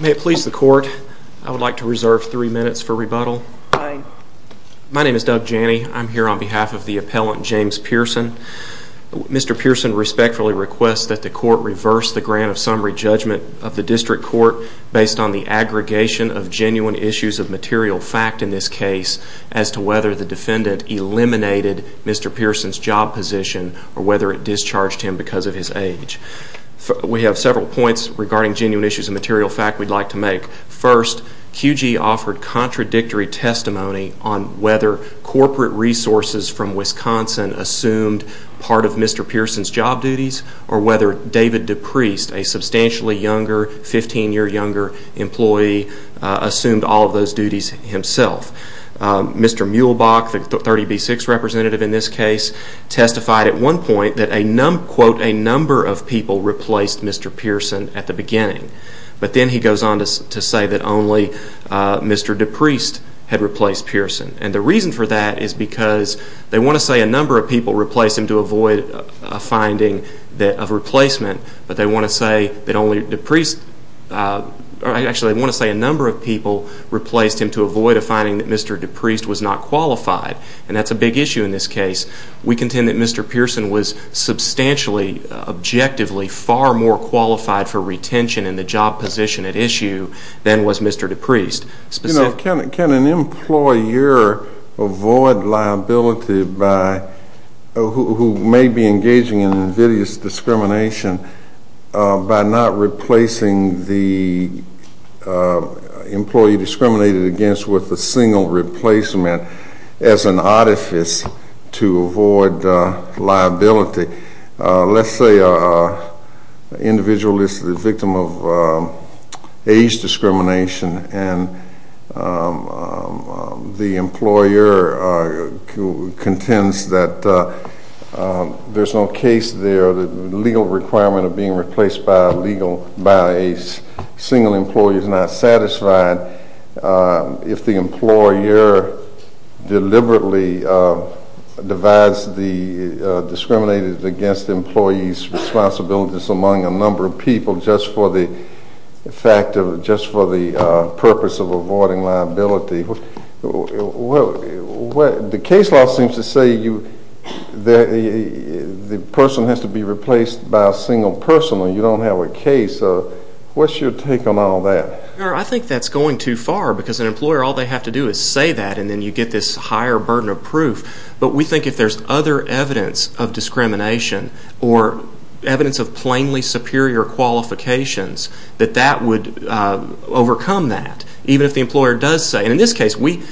May it please the court I would like to reserve three minutes for rebuttal. My name is Doug Janney I'm here on behalf of the appellant James Pearson. Mr. Pearson respectfully requests that the court reverse the grant of summary judgment of the district court based on the aggregation of genuine issues of material fact in this case as to whether the defendant eliminated Mr. Pearson's job position or whether it discharged him because of his age. We have several points regarding genuine issues of material fact we'd like to make. First QG offered contradictory testimony on whether corporate resources from Wisconsin assumed part of Mr. Pearson's job duties or whether David DePriest a substantially younger 15-year younger employee assumed all of those duties himself. Mr. Muehlbach the 30b6 representative in this case testified at one point that a quote a number of people replaced Mr. Pearson at the beginning but then he goes on to say that only Mr. DePriest had replaced Pearson and the reason for that is because they want to say a number of people replaced him to avoid a finding that of replacement but they want to say that only DePriest I actually want to say a number of people replaced him to avoid a finding that Mr. DePriest was not qualified and that's a big issue in this case. We contend that Mr. Pearson was substantially objectively far more qualified for retention in the job position at issue than was Mr. DePriest. You know can an employer avoid liability by who may be engaging in invidious discrimination by not replacing the employee discriminated against with a single replacement as an artifice to avoid liability. Let's say individual is the victim of age discrimination and the employer contends that there's no case there the legal requirement of being replaced by a legal by a single employer is not satisfied if the employer deliberately divides the discriminated against employees responsibilities among a number of people just for the purpose of avoiding liability. The case law seems to say that the person has to be replaced by a single person or you don't have a case. What's your take on all that? I think that's going too far because an employer all they have to do is say that and then you get this higher burden of discrimination or evidence of plainly superior qualifications that that would overcome that even if the employer does say in this case we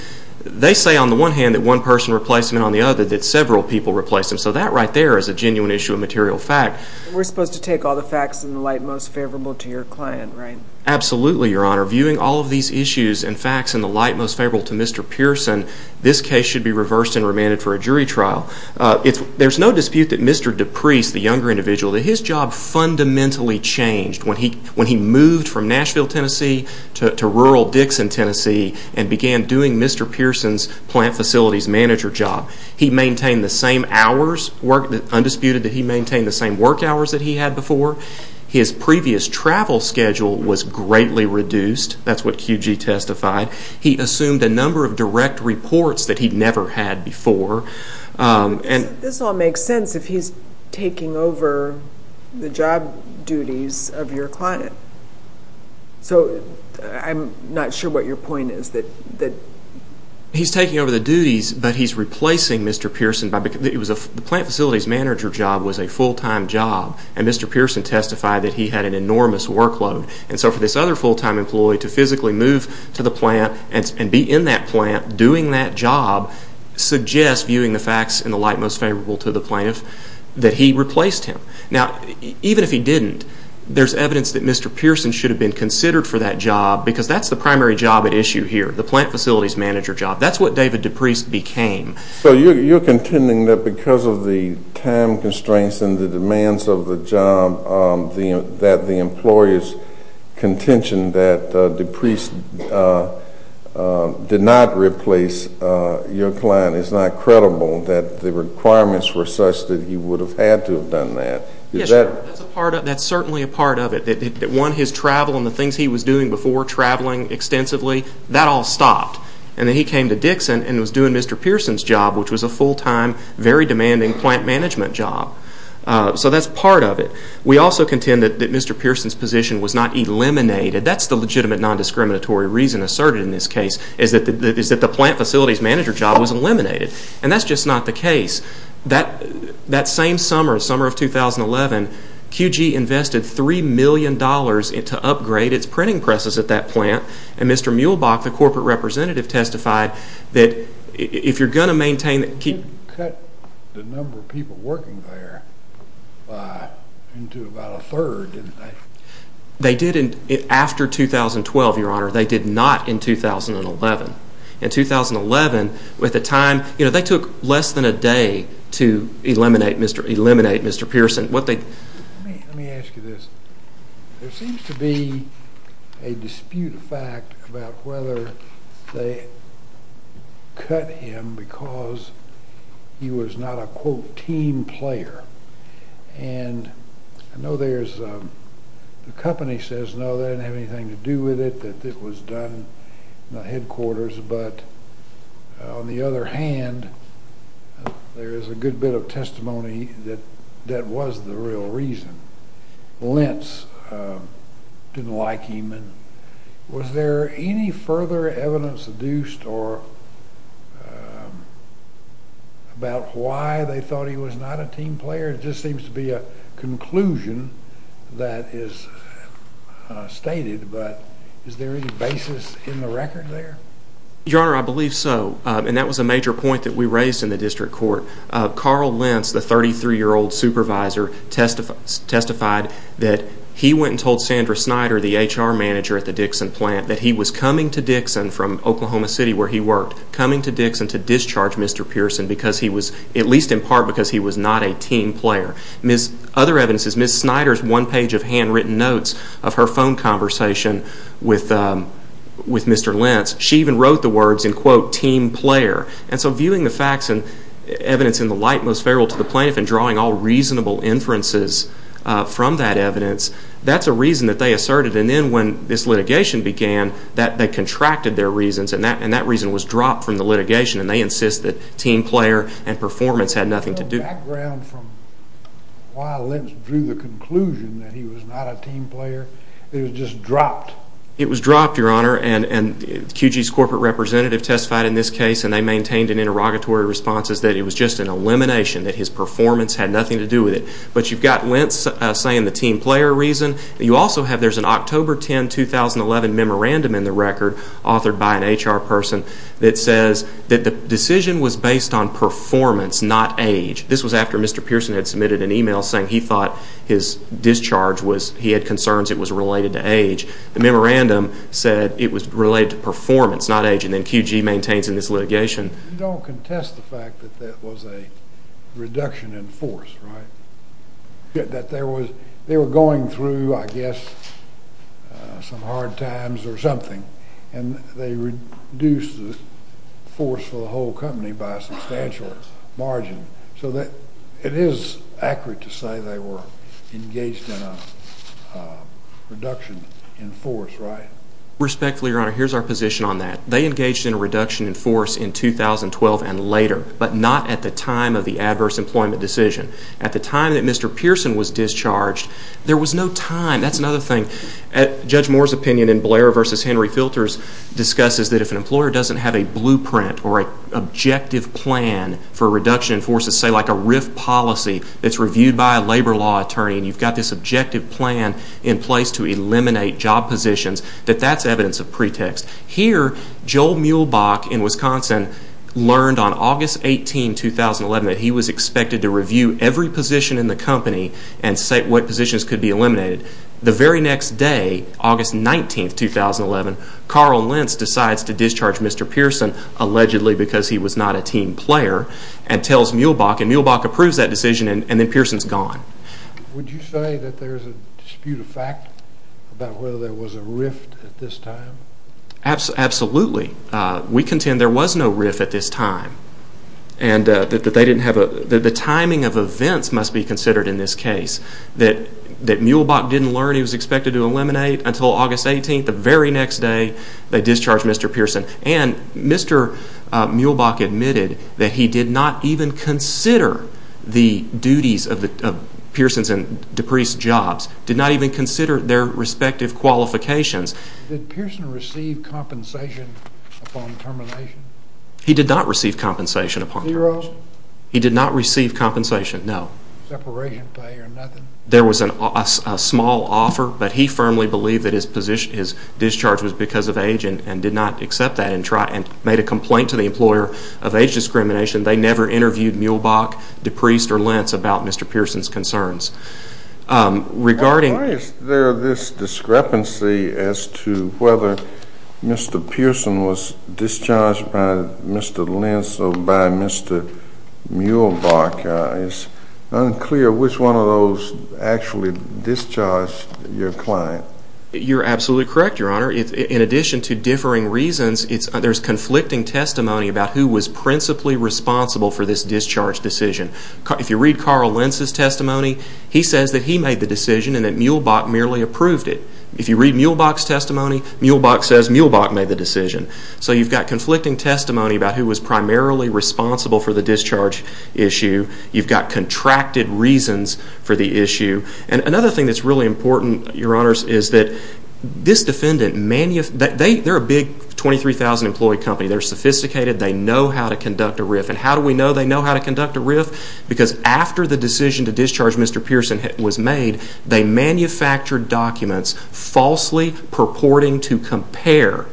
they say on the one hand that one person replaced him and on the other that several people replaced him so that right there is a genuine issue of material fact. We're supposed to take all the facts in the light most favorable to your client right? Absolutely your honor. Viewing all of these issues and facts in the light most favorable to Mr. Pearson this case should be reversed and remanded for a Mr. DePriest the younger individual that his job fundamentally changed when he when he moved from Nashville Tennessee to rural Dixon Tennessee and began doing Mr. Pearson's plant facilities manager job. He maintained the same hours work undisputed that he maintained the same work hours that he had before. His previous travel schedule was greatly reduced that's what QG testified. He assumed a number of direct reports that he'd never had before and this all makes sense if he's taking over the job duties of your client. So I'm not sure what your point is that that he's taking over the duties but he's replacing Mr. Pearson by because it was a plant facilities manager job was a full-time job and Mr. Pearson testified that he had an enormous workload and so for this other full-time employee to physically move to the plant and be in that plant doing that job suggests viewing the facts in the light most favorable to the plaintiff that he replaced him. Now even if he didn't there's evidence that Mr. Pearson should have been considered for that job because that's the primary job at issue here the plant facilities manager job that's what David DePriest became. So you're contending that because of the time constraints and the demands of the job that the employers contention that DePriest did not replace your client is not credible that the requirements were such that he would have had to have done that. That's certainly a part of it that won his travel and the things he was doing before traveling extensively that all stopped and then he came to Dixon and was doing Mr. Pearson's job which was a full-time very demanding plant management job so that's part of it. We also contend that Mr. Pearson's job was not eliminated. That's the legitimate non-discriminatory reason asserted in this case is that the plant facilities manager job was eliminated and that's just not the case. That same summer, the summer of 2011, QG invested three million dollars to upgrade its printing presses at that plant and Mr. Muehlbach, the corporate representative, testified that if you're going to maintain it, keep it. You cut the number of people working there into about a third, didn't you? They did after 2012, your honor. They did not in 2011. In 2011, with the time, you know, they took less than a day to eliminate Mr. Pearson. Let me ask you this. There seems to be a dispute of fact about whether they cut him because he was not a quote team player and I know there's a company says no they didn't have anything to do with it, that it was done in the headquarters, but on the other hand, there is a good bit of testimony that that was the real reason. Lentz didn't like him. Was there any further evidence deduced or about why they thought he was not a team player? It just seems to be a conclusion that is stated, but is there any basis in the record there? Your honor, I think that was a major point that we raised in the district court. Carl Lentz, the 33-year-old supervisor, testified that he went and told Sandra Snyder, the HR manager at the Dixon plant, that he was coming to Dixon from Oklahoma City, where he worked, coming to Dixon to discharge Mr. Pearson because he was, at least in part, because he was not a team player. Other evidence is Ms. Snyder's one page of handwritten notes of her phone conversation with Mr. Lentz. She even wrote the words in quote team player. And so viewing the facts and evidence in the light most favorable to the plaintiff and drawing all reasonable inferences from that evidence, that's a reason that they asserted. And then when this litigation began, they contracted their reasons and that reason was dropped from the litigation and they insist that team player and performance had nothing to do with it. Do you have any background from why Lentz drew the conclusion that he was not a team player? It was just dropped? It was dropped, your honor, and QG's corporate representative testified in this case and they maintained in interrogatory responses that it was just an elimination, that his performance had nothing to do with it. But you've got Lentz saying the team player reason. You also have, there's an October 10, 2011 memorandum in the record, authored by an HR person, that says that the decision was based on performance, not age. This was after Mr. Pearson had submitted an email saying he thought his discharge was, he had concerns it was related to age. The memorandum said it was related to performance, not age, and then QG maintains in this litigation. You don't contest the fact that that was a reduction in force, right? That they were going through, I guess, some hard times or something and they reduced the force for the whole company by a substantial margin. So it is accurate to say they were engaged in a reduction in force, right? Respectfully, your honor, here's our position on that. They engaged in a reduction in force in 2012 and later, but not at the time of the adverse employment decision. At the time that Mr. Pearson was discharged, there was no time. That's another thing. Judge Moore's opinion in Blair v. Henry Filters discusses that if an employer doesn't have a blueprint or an objective plan for a reduction in force, say like a RIF policy that's reviewed by a labor law attorney and you've got this objective plan in place to eliminate job positions, that that's evidence of pretext. Here, Joel Muehlbach in Wisconsin learned on August 18, 2011 that he was expected to review every position in the company and say what positions could be eliminated. The very next day, August 19, 2011, Carl Lentz decides to discharge Mr. Pearson allegedly because he was not a team player and tells Muehlbach and Muehlbach approves that decision and then Pearson's gone. Would you say that there's a dispute of fact about whether there was a RIF at this time? Did Pearson receive compensation upon termination? He did not receive compensation upon termination. Zero? He did not receive compensation, no. Separation pay or nothing? There was a small offer, but he firmly believed that his discharge was because of age and did not accept that and made a complaint to the employer of age discrimination. They never interviewed Muehlbach, DePriest, or Lentz about Mr. Pearson's concerns. Why is there this discrepancy as to whether Mr. Pearson was discharged by Mr. Lentz or by Mr. Muehlbach? It's unclear which one of those actually discharged your client. You're absolutely correct, Your Honor. In addition to differing reasons, there's conflicting testimony about who was principally responsible for this discharge decision. If you read Carl Lentz's testimony, he says that he made the decision and that Muehlbach merely approved it. If you read Muehlbach's testimony, Muehlbach says Muehlbach made the decision. So you've got conflicting testimony about who was primarily responsible for the discharge issue. You've got contracted reasons for the issue. And another thing that's really important, Your Honors, is that this defendant, they're a big 23,000 employee company. They know how to conduct a RIF. And how do we know they know how to conduct a RIF? Because after the decision to discharge Mr. Pearson was made, they manufactured documents falsely purporting to compare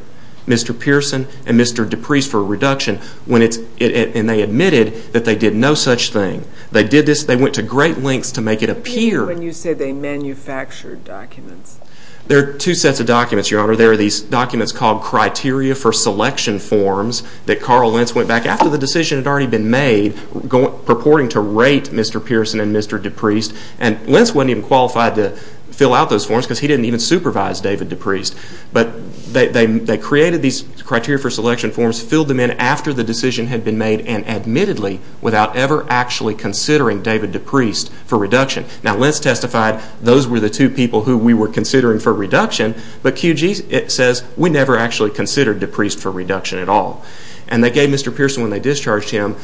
Mr. Pearson and Mr. DePriest for a reduction. And they admitted that they did no such thing. They did this. They went to great lengths to make it appear. What do you mean when you say they manufactured documents? There are two sets of documents, Your Honor. There are these documents called Criteria for Selection Forms that Carl Lentz went back after the decision had already been made purporting to rate Mr. Pearson and Mr. DePriest. And Lentz wasn't even qualified to fill out those forms because he didn't even supervise David DePriest. But they created these Criteria for Selection Forms, filled them in after the decision had been made, and admittedly without ever actually considering David DePriest for reduction. Now, Lentz testified those were the two people who we were considering for reduction. But QG says we never actually considered DePriest for reduction at all. And they gave Mr. Pearson, when they discharged him,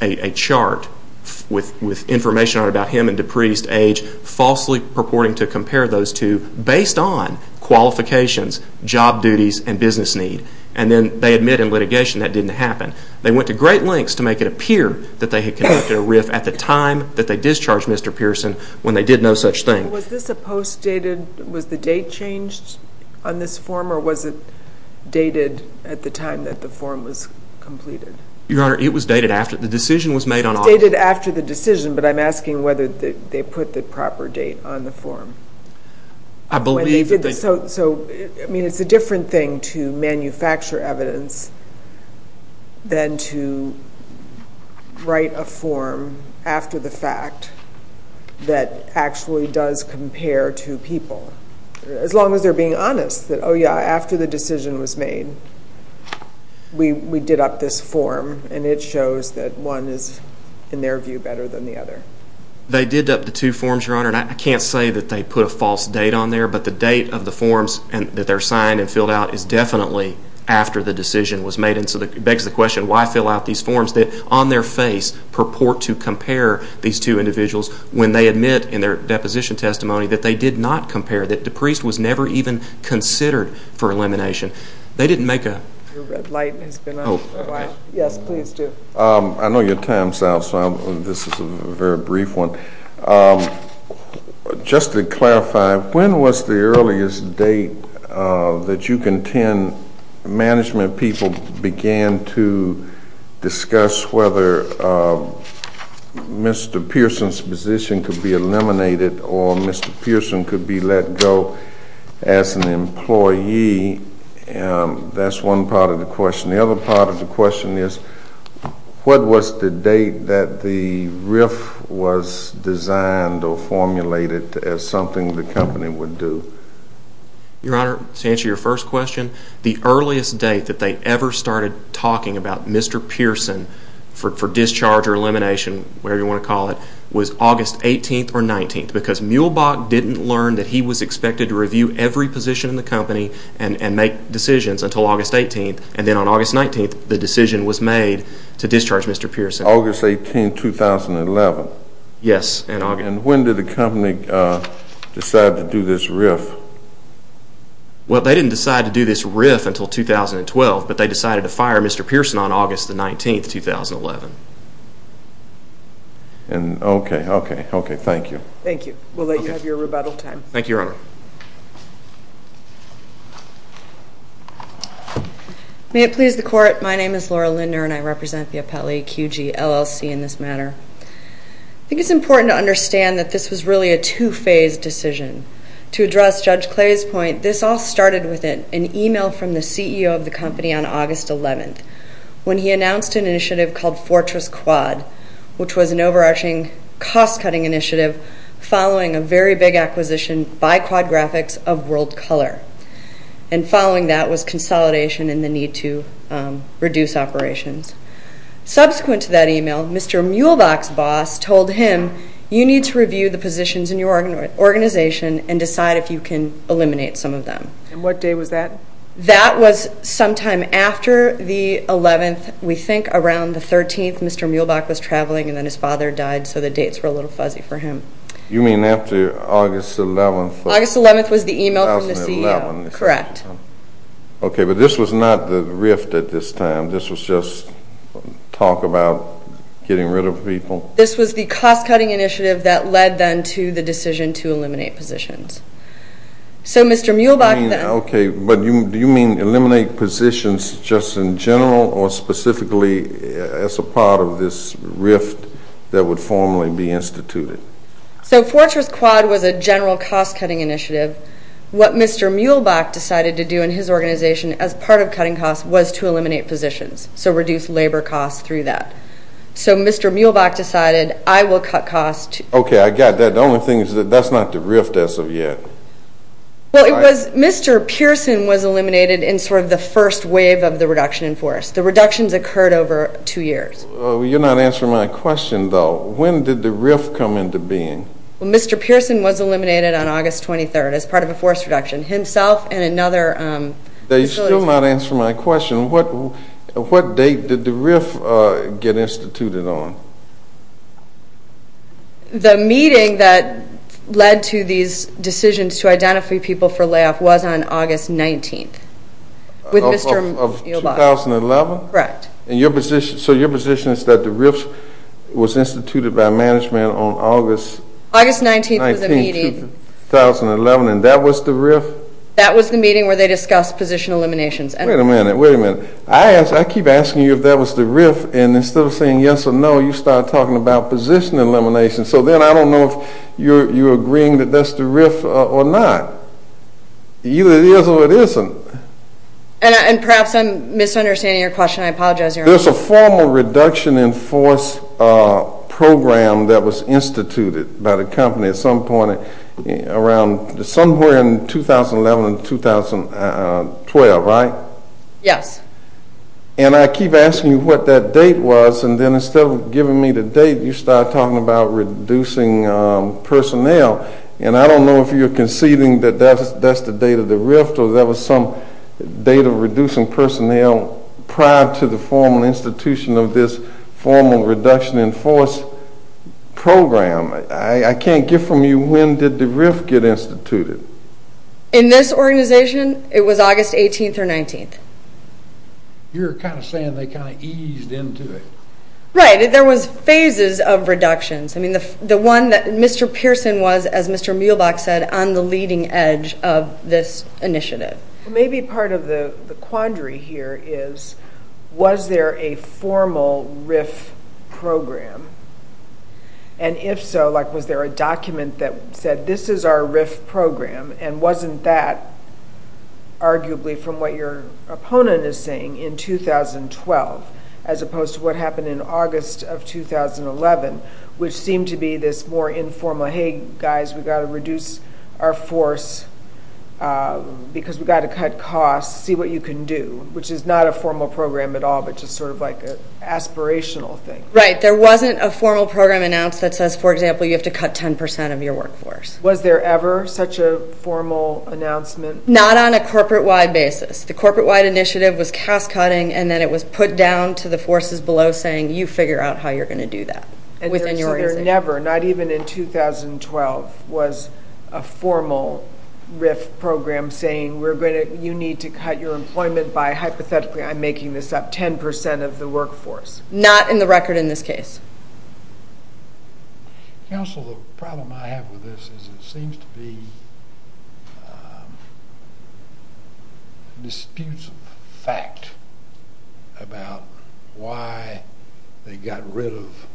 a chart with information on him and DePriest's age, falsely purporting to compare those two based on qualifications, job duties, and business need. And then they admit in litigation that didn't happen. They went to great lengths to make it appear that they had conducted a RIF at the time that they discharged Mr. Pearson when they did no such thing. Was this a post-dated, was the date changed on this form, or was it dated at the time that the form was completed? Your Honor, it was dated after the decision was made on August. It was dated after the decision, but I'm asking whether they put the proper date on the form. I believe that they did. I mean, it's a different thing to manufacture evidence than to write a form after the fact that actually does compare two people. As long as they're being honest that, oh, yeah, after the decision was made, we did up this form, and it shows that one is, in their view, better than the other. They did up the two forms, Your Honor, and I can't say that they put a false date on there, but the date of the forms that they're signed and filled out is definitely after the decision was made. And so it begs the question, why fill out these forms that, on their face, purport to compare these two individuals when they admit in their deposition testimony that they did not compare, that DePriest was never even considered for elimination? They didn't make a... Your red light has been on for a while. Yes, please do. I know your time is out, so this is a very brief one. Just to clarify, when was the earliest date that you contend management people began to discuss whether Mr. Pearson's position could be eliminated or Mr. Pearson could be let go as an employee? That's one part of the question. The other part of the question is, what was the date that the RIF was designed or formulated as something the company would do? Your Honor, to answer your first question, the earliest date that they ever started talking about Mr. Pearson for discharge or elimination, whatever you want to call it, was August 18th or 19th, because Muehlbach didn't learn that he was expected to review every position in the company and make decisions until August 18th, and then on August 19th the decision was made to discharge Mr. Pearson. August 18th, 2011? Yes, in August. And when did the company decide to do this RIF? Well, they didn't decide to do this RIF until 2012, but they decided to fire Mr. Pearson on August 19th, 2011. Okay, thank you. Thank you. We'll let you have your rebuttal time. Thank you, Your Honor. May it please the Court, my name is Laura Linder and I represent the appellee QG, LLC in this matter. I think it's important to understand that this was really a two-phase decision. To address Judge Clay's point, this all started with an email from the CEO of the company on August 11th when he announced an initiative called Fortress Quad, which was an overarching cost-cutting initiative following a very big acquisition by Quad Graphics of world color. And following that was consolidation and the need to reduce operations. Subsequent to that email, Mr. Muhlbach's boss told him, you need to review the positions in your organization and decide if you can eliminate some of them. And what day was that? That was sometime after the 11th, we think around the 13th Mr. Muhlbach was traveling and then his father died so the dates were a little fuzzy for him. You mean after August 11th? August 11th was the email from the CEO. Correct. Okay, but this was not the rift at this time, this was just talk about getting rid of people? This was the cost-cutting initiative that led then to the decision to eliminate positions. So Mr. Muhlbach then... Okay, but do you mean eliminate positions just in general or specifically as a part of this rift that would formally be instituted? So Fortress Quad was a general cost-cutting initiative. What Mr. Muhlbach decided to do in his organization as part of cutting costs was to eliminate positions, so reduce labor costs through that. So Mr. Muhlbach decided I will cut costs... Okay, I got that. The only thing is that that's not the rift as of yet. Well, it was Mr. Pearson was eliminated in sort of the first wave of the reduction in forests. The reductions occurred over two years. You're not answering my question, though. When did the rift come into being? Well, Mr. Pearson was eliminated on August 23rd as part of a forest reduction. Himself and another... You're still not answering my question. What date did the rift get instituted on? The meeting that led to these decisions to identify people for layoff was on August 19th with Mr. Muhlbach. Of 2011? Correct. So your position is that the rift was instituted by management on August 19th, 2011, and that was the rift? That was the meeting where they discussed position eliminations. Wait a minute, wait a minute. I keep asking you if that was the rift, and instead of saying yes or no, you start talking about position elimination. So then I don't know if you're agreeing that that's the rift or not. Either it is or it isn't. And perhaps I'm misunderstanding your question. I apologize. There's a formal reduction in forest program that was instituted by the company at some point around somewhere in 2011 and 2012, right? Yes. And I keep asking you what that date was, and then instead of giving me the date, you start talking about reducing personnel. And I don't know if you're conceding that that's the date of the rift or there was some date of reducing personnel prior to the formal institution of this formal reduction in forest program. I can't get from you when did the rift get instituted. In this organization, it was August 18th or 19th. You're kind of saying they kind of eased into it. Right. There was phases of reductions. I mean, the one that Mr. Pearson was, as Mr. Muehlbach said, on the leading edge of this initiative. Maybe part of the quandary here is was there a formal rift program? And if so, like was there a document that said this is our rift program and wasn't that arguably from what your opponent is saying in 2012 as opposed to what happened in August of 2011, which seemed to be this more informal, hey, guys, we've got to reduce our force because we've got to cut costs, see what you can do, which is not a formal program at all, but just sort of like an aspirational thing. Right. There wasn't a formal program announced that says, for example, you have to cut 10% of your workforce. Was there ever such a formal announcement? Not on a corporate-wide basis. The corporate-wide initiative was cast-cutting, and then it was put down to the forces below saying you figure out how you're going to do that within your organization. So there never, not even in 2012, was a formal rift program saying you need to cut your employment by, hypothetically, I'm making this up, 10% of the workforce. Not in the record in this case. Counsel, the problem I have with this is it seems to be disputes of fact about why they got rid of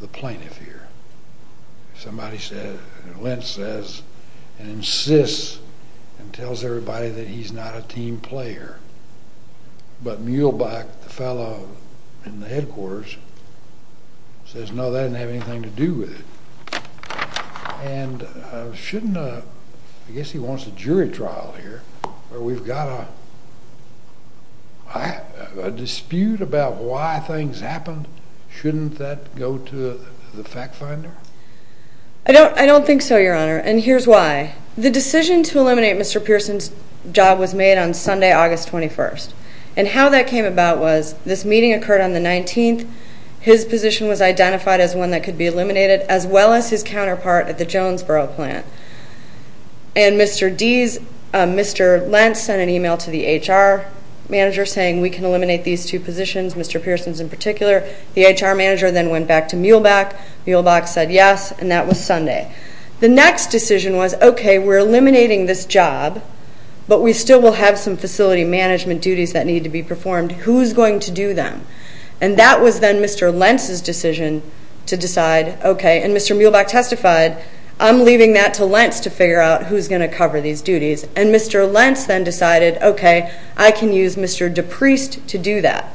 the plaintiff here. Somebody said, and Lentz says and insists and tells everybody that he's not a team player, but Muehlbach, the fellow in the headquarters, says no, that doesn't have anything to do with it. And shouldn't, I guess he wants a jury trial here where we've got a dispute about why things happened. Shouldn't that go to the fact finder? I don't think so, Your Honor, and here's why. The decision to eliminate Mr. Pearson's job was made on Sunday, August 21st, and how that came about was this meeting occurred on the 19th. His position was identified as one that could be eliminated, as well as his counterpart at the Jonesboro plant. And Mr. Lentz sent an email to the HR manager saying we can eliminate these two positions, Mr. Pearson's in particular. The HR manager then went back to Muehlbach. Muehlbach said yes, and that was Sunday. The next decision was, okay, we're eliminating this job, but we still will have some facility management duties that need to be performed. Who's going to do them? And that was then Mr. Lentz's decision to decide, okay, and Mr. Muehlbach testified, I'm leaving that to Lentz to figure out who's going to cover these duties. And Mr. Lentz then decided, okay, I can use Mr. DePriest to do that.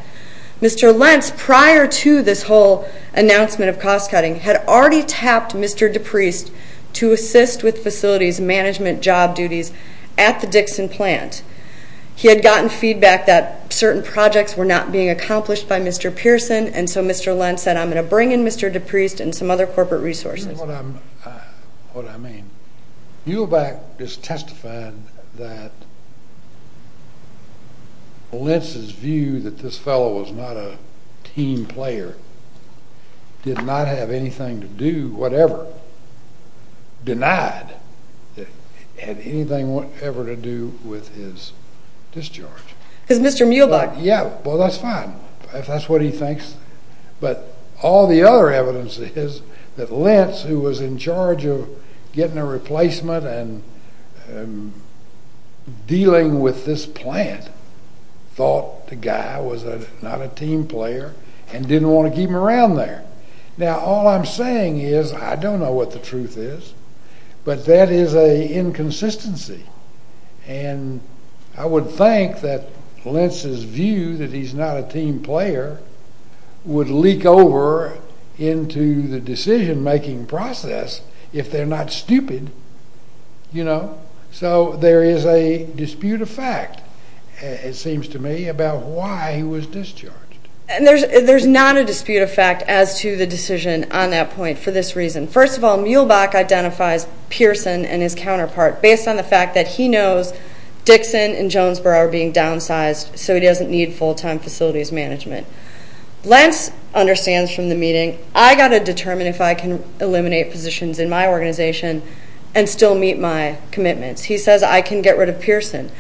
Mr. Lentz, prior to this whole announcement of cost cutting, had already tapped Mr. DePriest to assist with facilities management job duties at the Dixon plant. He had gotten feedback that certain projects were not being accomplished by Mr. Pearson, and so Mr. Lentz said I'm going to bring in Mr. DePriest and some other corporate resources. What I mean, Muehlbach is testifying that Lentz's view that this fellow was not a team player did not have anything to do, whatever, denied, had anything whatever to do with his discharge. Because Mr. Muehlbach. Yeah, well, that's fine, if that's what he thinks. But all the other evidence is that Lentz, who was in charge of getting a replacement and dealing with this plant, thought the guy was not a team player and didn't want to keep him around there. Now, all I'm saying is I don't know what the truth is, but that is an inconsistency. And I would think that Lentz's view that he's not a team player would leak over into the decision-making process if they're not stupid, you know. So there is a dispute of fact, it seems to me, about why he was discharged. And there's not a dispute of fact as to the decision on that point for this reason. First of all, Muehlbach identifies Pearson and his counterpart based on the fact that he knows Dixon and Jonesboro are being downsized so he doesn't need full-time facilities management. Lentz understands from the meeting, I've got to determine if I can eliminate positions in my organization and still meet my commitments. He says, I can get rid of Pearson.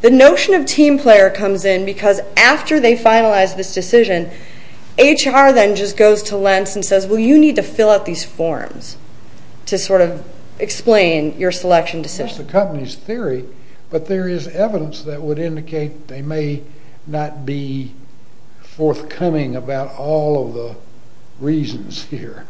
The notion of team player comes in because after they finalize this decision, HR then just goes to Lentz and says, well, you need to fill out these forms to sort of explain your selection decision. That's the company's theory, but there is evidence that would indicate they may not be forthcoming about all of the reasons here.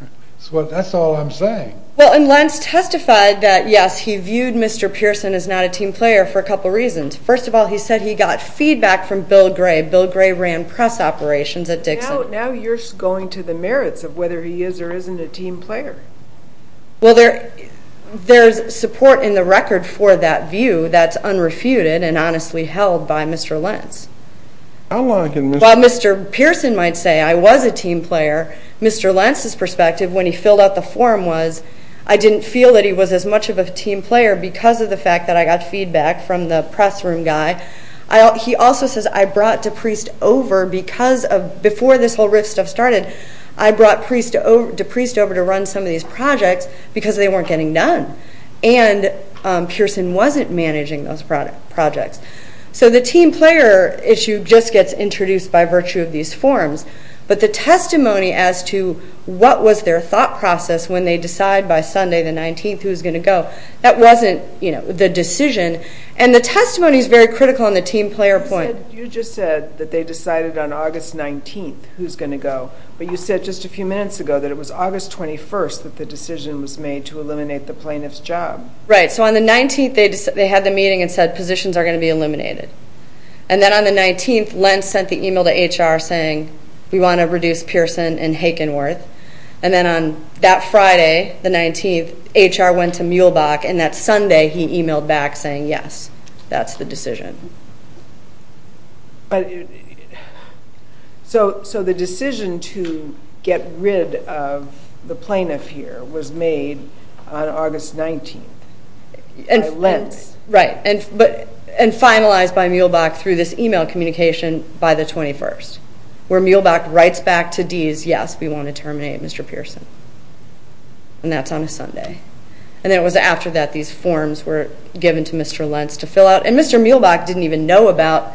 That's all I'm saying. Well, and Lentz testified that, yes, he viewed Mr. Pearson as not a team player for a couple reasons. First of all, he said he got feedback from Bill Gray. Bill Gray ran press operations at Dixon. Now you're going to the merits of whether he is or isn't a team player. Well, there's support in the record for that view that's unrefuted and honestly held by Mr. Lentz. While Mr. Pearson might say, I was a team player, Mr. Lentz's perspective when he filled out the form was, I didn't feel that he was as much of a team player because of the fact that I got feedback from the press room guy. He also says, I brought DePriest over because before this whole RIF stuff started, I brought DePriest over to run some of these projects because they weren't getting done. And Pearson wasn't managing those projects. So the team player issue just gets introduced by virtue of these forms. But the testimony as to what was their thought process when they decide by Sunday the 19th who's going to go, that wasn't the decision. And the testimony is very critical on the team player point. You just said that they decided on August 19th who's going to go. But you said just a few minutes ago that it was August 21st that the decision was made to eliminate the plaintiff's job. Right, so on the 19th they had the meeting and said positions are going to be eliminated. And then on the 19th, Lentz sent the email to HR saying, we want to reduce Pearson and Hakenworth. And then on that Friday, the 19th, HR went to Muehlbach, and that Sunday he emailed back saying, yes, that's the decision. So the decision to get rid of the plaintiff here was made on August 19th by Lentz. Right, and finalized by Muehlbach through this email communication by the 21st, where Muehlbach writes back to Deas, yes, we want to terminate Mr. Pearson. And that's on a Sunday. And then it was after that these forms were given to Mr. Lentz to fill out. And Mr. Muehlbach didn't even know about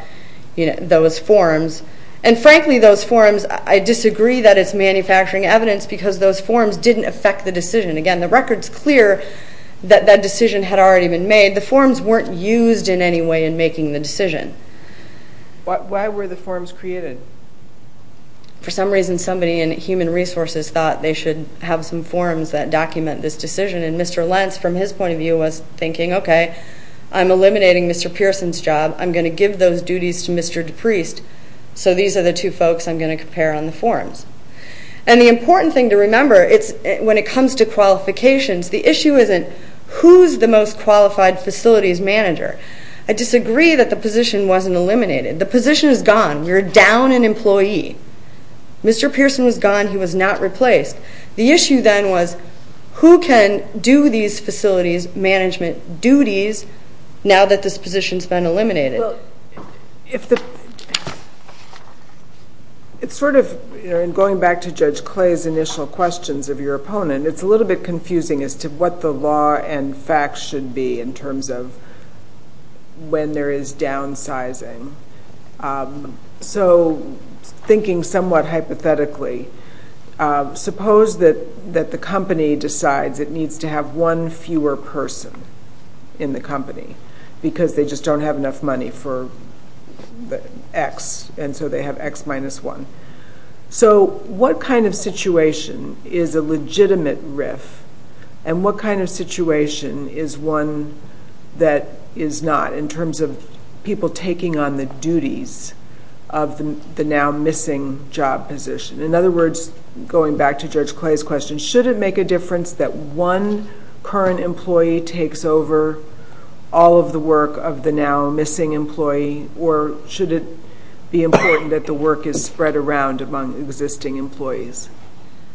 those forms. And frankly, those forms, I disagree that it's manufacturing evidence because those forms didn't affect the decision. Again, the record's clear that that decision had already been made. The forms weren't used in any way in making the decision. Why were the forms created? For some reason, somebody in human resources thought they should have some forms that document this decision, and Mr. Lentz, from his point of view, was thinking, okay, I'm eliminating Mr. Pearson's job. I'm going to give those duties to Mr. DePriest, so these are the two folks I'm going to compare on the forms. And the important thing to remember, when it comes to qualifications, the issue isn't who's the most qualified facilities manager. I disagree that the position wasn't eliminated. The position is gone. You're down an employee. Mr. Pearson was gone. He was not replaced. The issue then was who can do these facilities management duties now that this position's been eliminated? Well, it's sort of, in going back to Judge Clay's initial questions of your opponent, it's a little bit confusing as to what the law and facts should be in terms of when there is downsizing. So thinking somewhat hypothetically, suppose that the company decides it needs to have one fewer person in the company because they just don't have enough money for X, and so they have X minus one. So what kind of situation is a legitimate RIF, and what kind of situation is one that is not in terms of people taking on the duties of the now-missing job position? In other words, going back to Judge Clay's question, should it make a difference that one current employee takes over all of the work of the now-missing employee, or should it be important that the work is spread around among existing employees?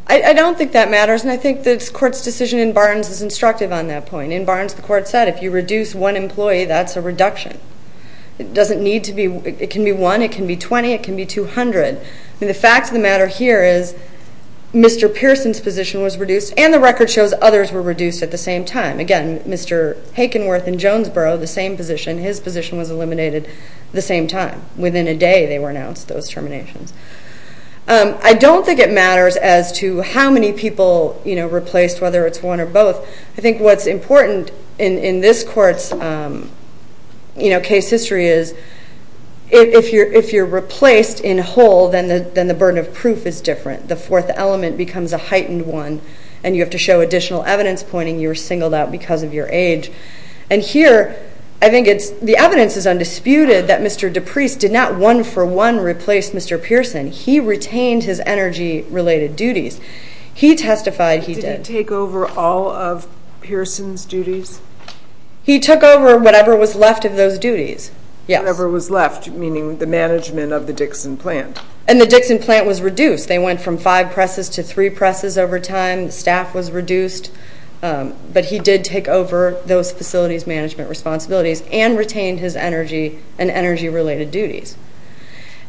I don't think that matters, and I think the Court's decision in Barnes is instructive on that point. In Barnes, the Court said if you reduce one employee, that's a reduction. It doesn't need to be. It can be one. It can be 20. It can be 200. The fact of the matter here is Mr. Pearson's position was reduced, and the record shows others were reduced at the same time. Again, Mr. Hakenworth in Jonesboro, the same position, his position was eliminated at the same time. Within a day, they were announced, those terminations. I don't think it matters as to how many people replaced, whether it's one or both. I think what's important in this Court's case history is if you're replaced in whole, then the burden of proof is different. The fourth element becomes a heightened one, and you have to show additional evidence pointing you were singled out because of your age. Here, I think the evidence is undisputed that Mr. DePriest did not one-for-one replace Mr. Pearson. He retained his energy-related duties. He testified he did. Did he take over all of Pearson's duties? He took over whatever was left of those duties, yes. Whatever was left, meaning the management of the Dixon plant. And the Dixon plant was reduced. They went from five presses to three presses over time. Staff was reduced. But he did take over those facilities management responsibilities and retained his energy and energy-related duties.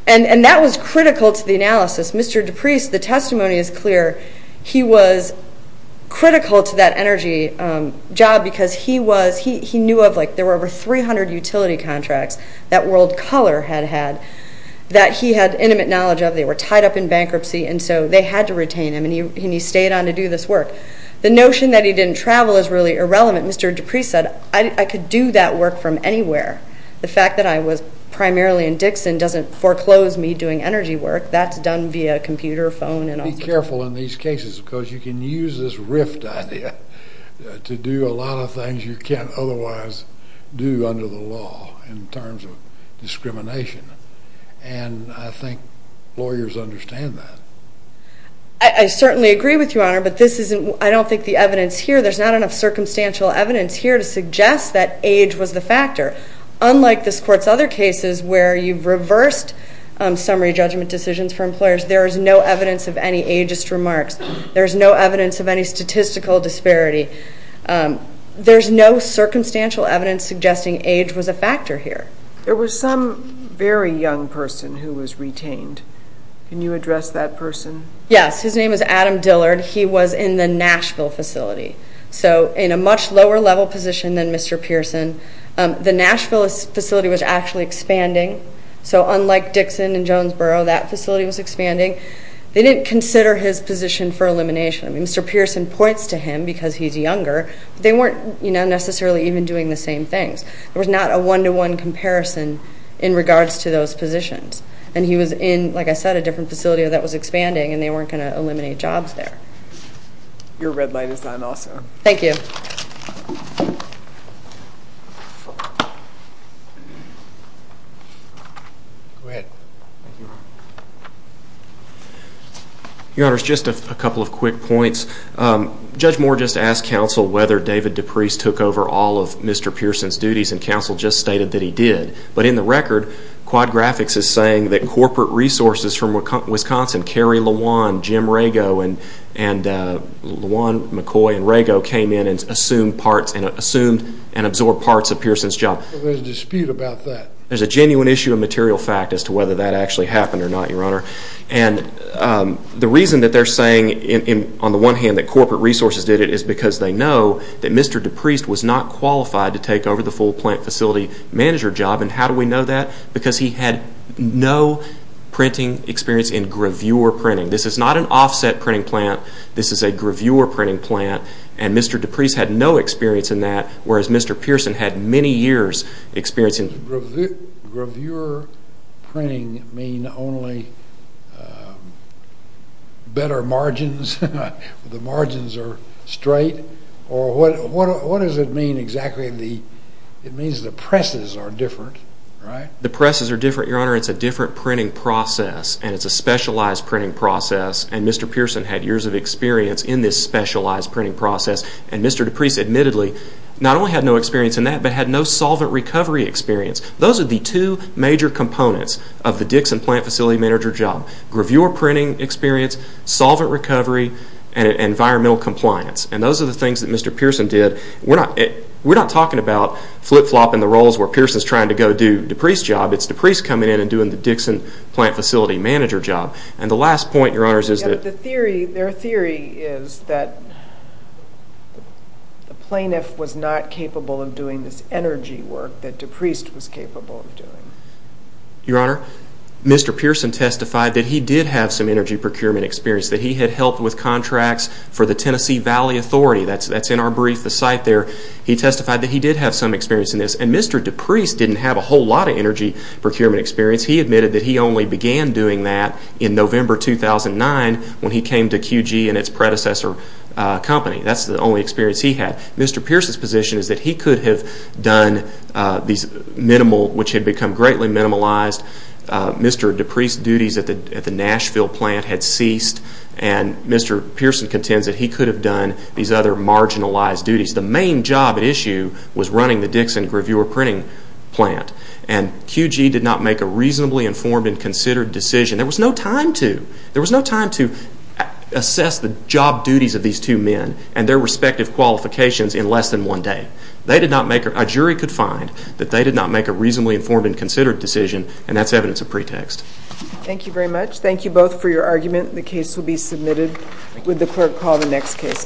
And that was critical to the analysis. Mr. DePriest, the testimony is clear. He was critical to that energy job because he knew of, like, there were over 300 utility contracts that World Color had had that he had intimate knowledge of. They were tied up in bankruptcy, and so they had to retain him, and he stayed on to do this work. The notion that he didn't travel is really irrelevant. Mr. DePriest said, I could do that work from anywhere. The fact that I was primarily in Dixon doesn't foreclose me doing energy work. That's done via computer, phone, and all sorts of things. Be careful in these cases because you can use this RIFT idea to do a lot of things you can't otherwise do under the law in terms of discrimination. And I think lawyers understand that. I certainly agree with you, Honor, but I don't think the evidence here, there's not enough circumstantial evidence here to suggest that age was the factor. Unlike this Court's other cases where you've reversed summary judgment decisions for employers, there is no evidence of any ageist remarks. There is no evidence of any statistical disparity. There's no circumstantial evidence suggesting age was a factor here. There was some very young person who was retained. Can you address that person? Yes. His name is Adam Dillard. He was in the Nashville facility, so in a much lower level position than Mr. Pearson. The Nashville facility was actually expanding. So unlike Dixon and Jonesboro, that facility was expanding. They didn't consider his position for elimination. I mean, Mr. Pearson points to him because he's younger, but they weren't necessarily even doing the same things. There was not a one-to-one comparison in regards to those positions. And he was in, like I said, a different facility that was expanding, and they weren't going to eliminate jobs there. Your red light is on also. Thank you. Go ahead. Your Honor, just a couple of quick points. Judge Moore just asked counsel whether David DePriest took over all of Mr. Pearson's duties, and counsel just stated that he did. But in the record, Quad Graphics is saying that corporate resources from Wisconsin, Kerry LaJuan, Jim Rago, and LaJuan, McCoy, and Rago came in and assumed and absorbed parts of Pearson's job. There's a dispute about that. There's a genuine issue of material fact as to whether that actually happened or not, Your Honor. And the reason that they're saying on the one hand that corporate resources did it is because they know that Mr. DePriest was not qualified to take over the full plant facility manager job and how do we know that? Because he had no printing experience in gravure printing. This is not an offset printing plant. This is a gravure printing plant, and Mr. DePriest had no experience in that, whereas Mr. Pearson had many years' experience in it. Does gravure printing mean only better margins? The margins are straight? Or what does it mean exactly? It means the presses are different, right? The presses are different, Your Honor. It's a different printing process, and it's a specialized printing process, and Mr. Pearson had years of experience in this specialized printing process. And Mr. DePriest admittedly not only had no experience in that, but had no solvent recovery experience. Those are the two major components of the Dixon plant facility manager job, gravure printing experience, solvent recovery, and environmental compliance. And those are the things that Mr. Pearson did. We're not talking about flip-flopping the roles where Pearson's trying to go do DePriest's job. It's DePriest coming in and doing the Dixon plant facility manager job. And the last point, Your Honor, is that... Their theory is that the plaintiff was not capable of doing this energy work that DePriest was capable of doing. Your Honor, Mr. Pearson testified that he did have some energy procurement experience, that he had helped with contracts for the Tennessee Valley Authority. That's in our brief, the site there. He testified that he did have some experience in this. And Mr. DePriest didn't have a whole lot of energy procurement experience. He admitted that he only began doing that in November 2009 when he came to QG and its predecessor company. That's the only experience he had. Mr. Pearson's position is that he could have done these minimal... which had become greatly minimalized. Mr. DePriest's duties at the Nashville plant had ceased. And Mr. Pearson contends that he could have done these other marginalized duties. The main job at issue was running the Dixon gravure printing plant. And QG did not make a reasonably informed and considered decision. There was no time to assess the job duties of these two men and their respective qualifications in less than one day. A jury could find that they did not make a reasonably informed and considered decision. And that's evidence of pretext. Thank you very much. Thank you both for your argument. The case will be submitted. Would the clerk call the next case?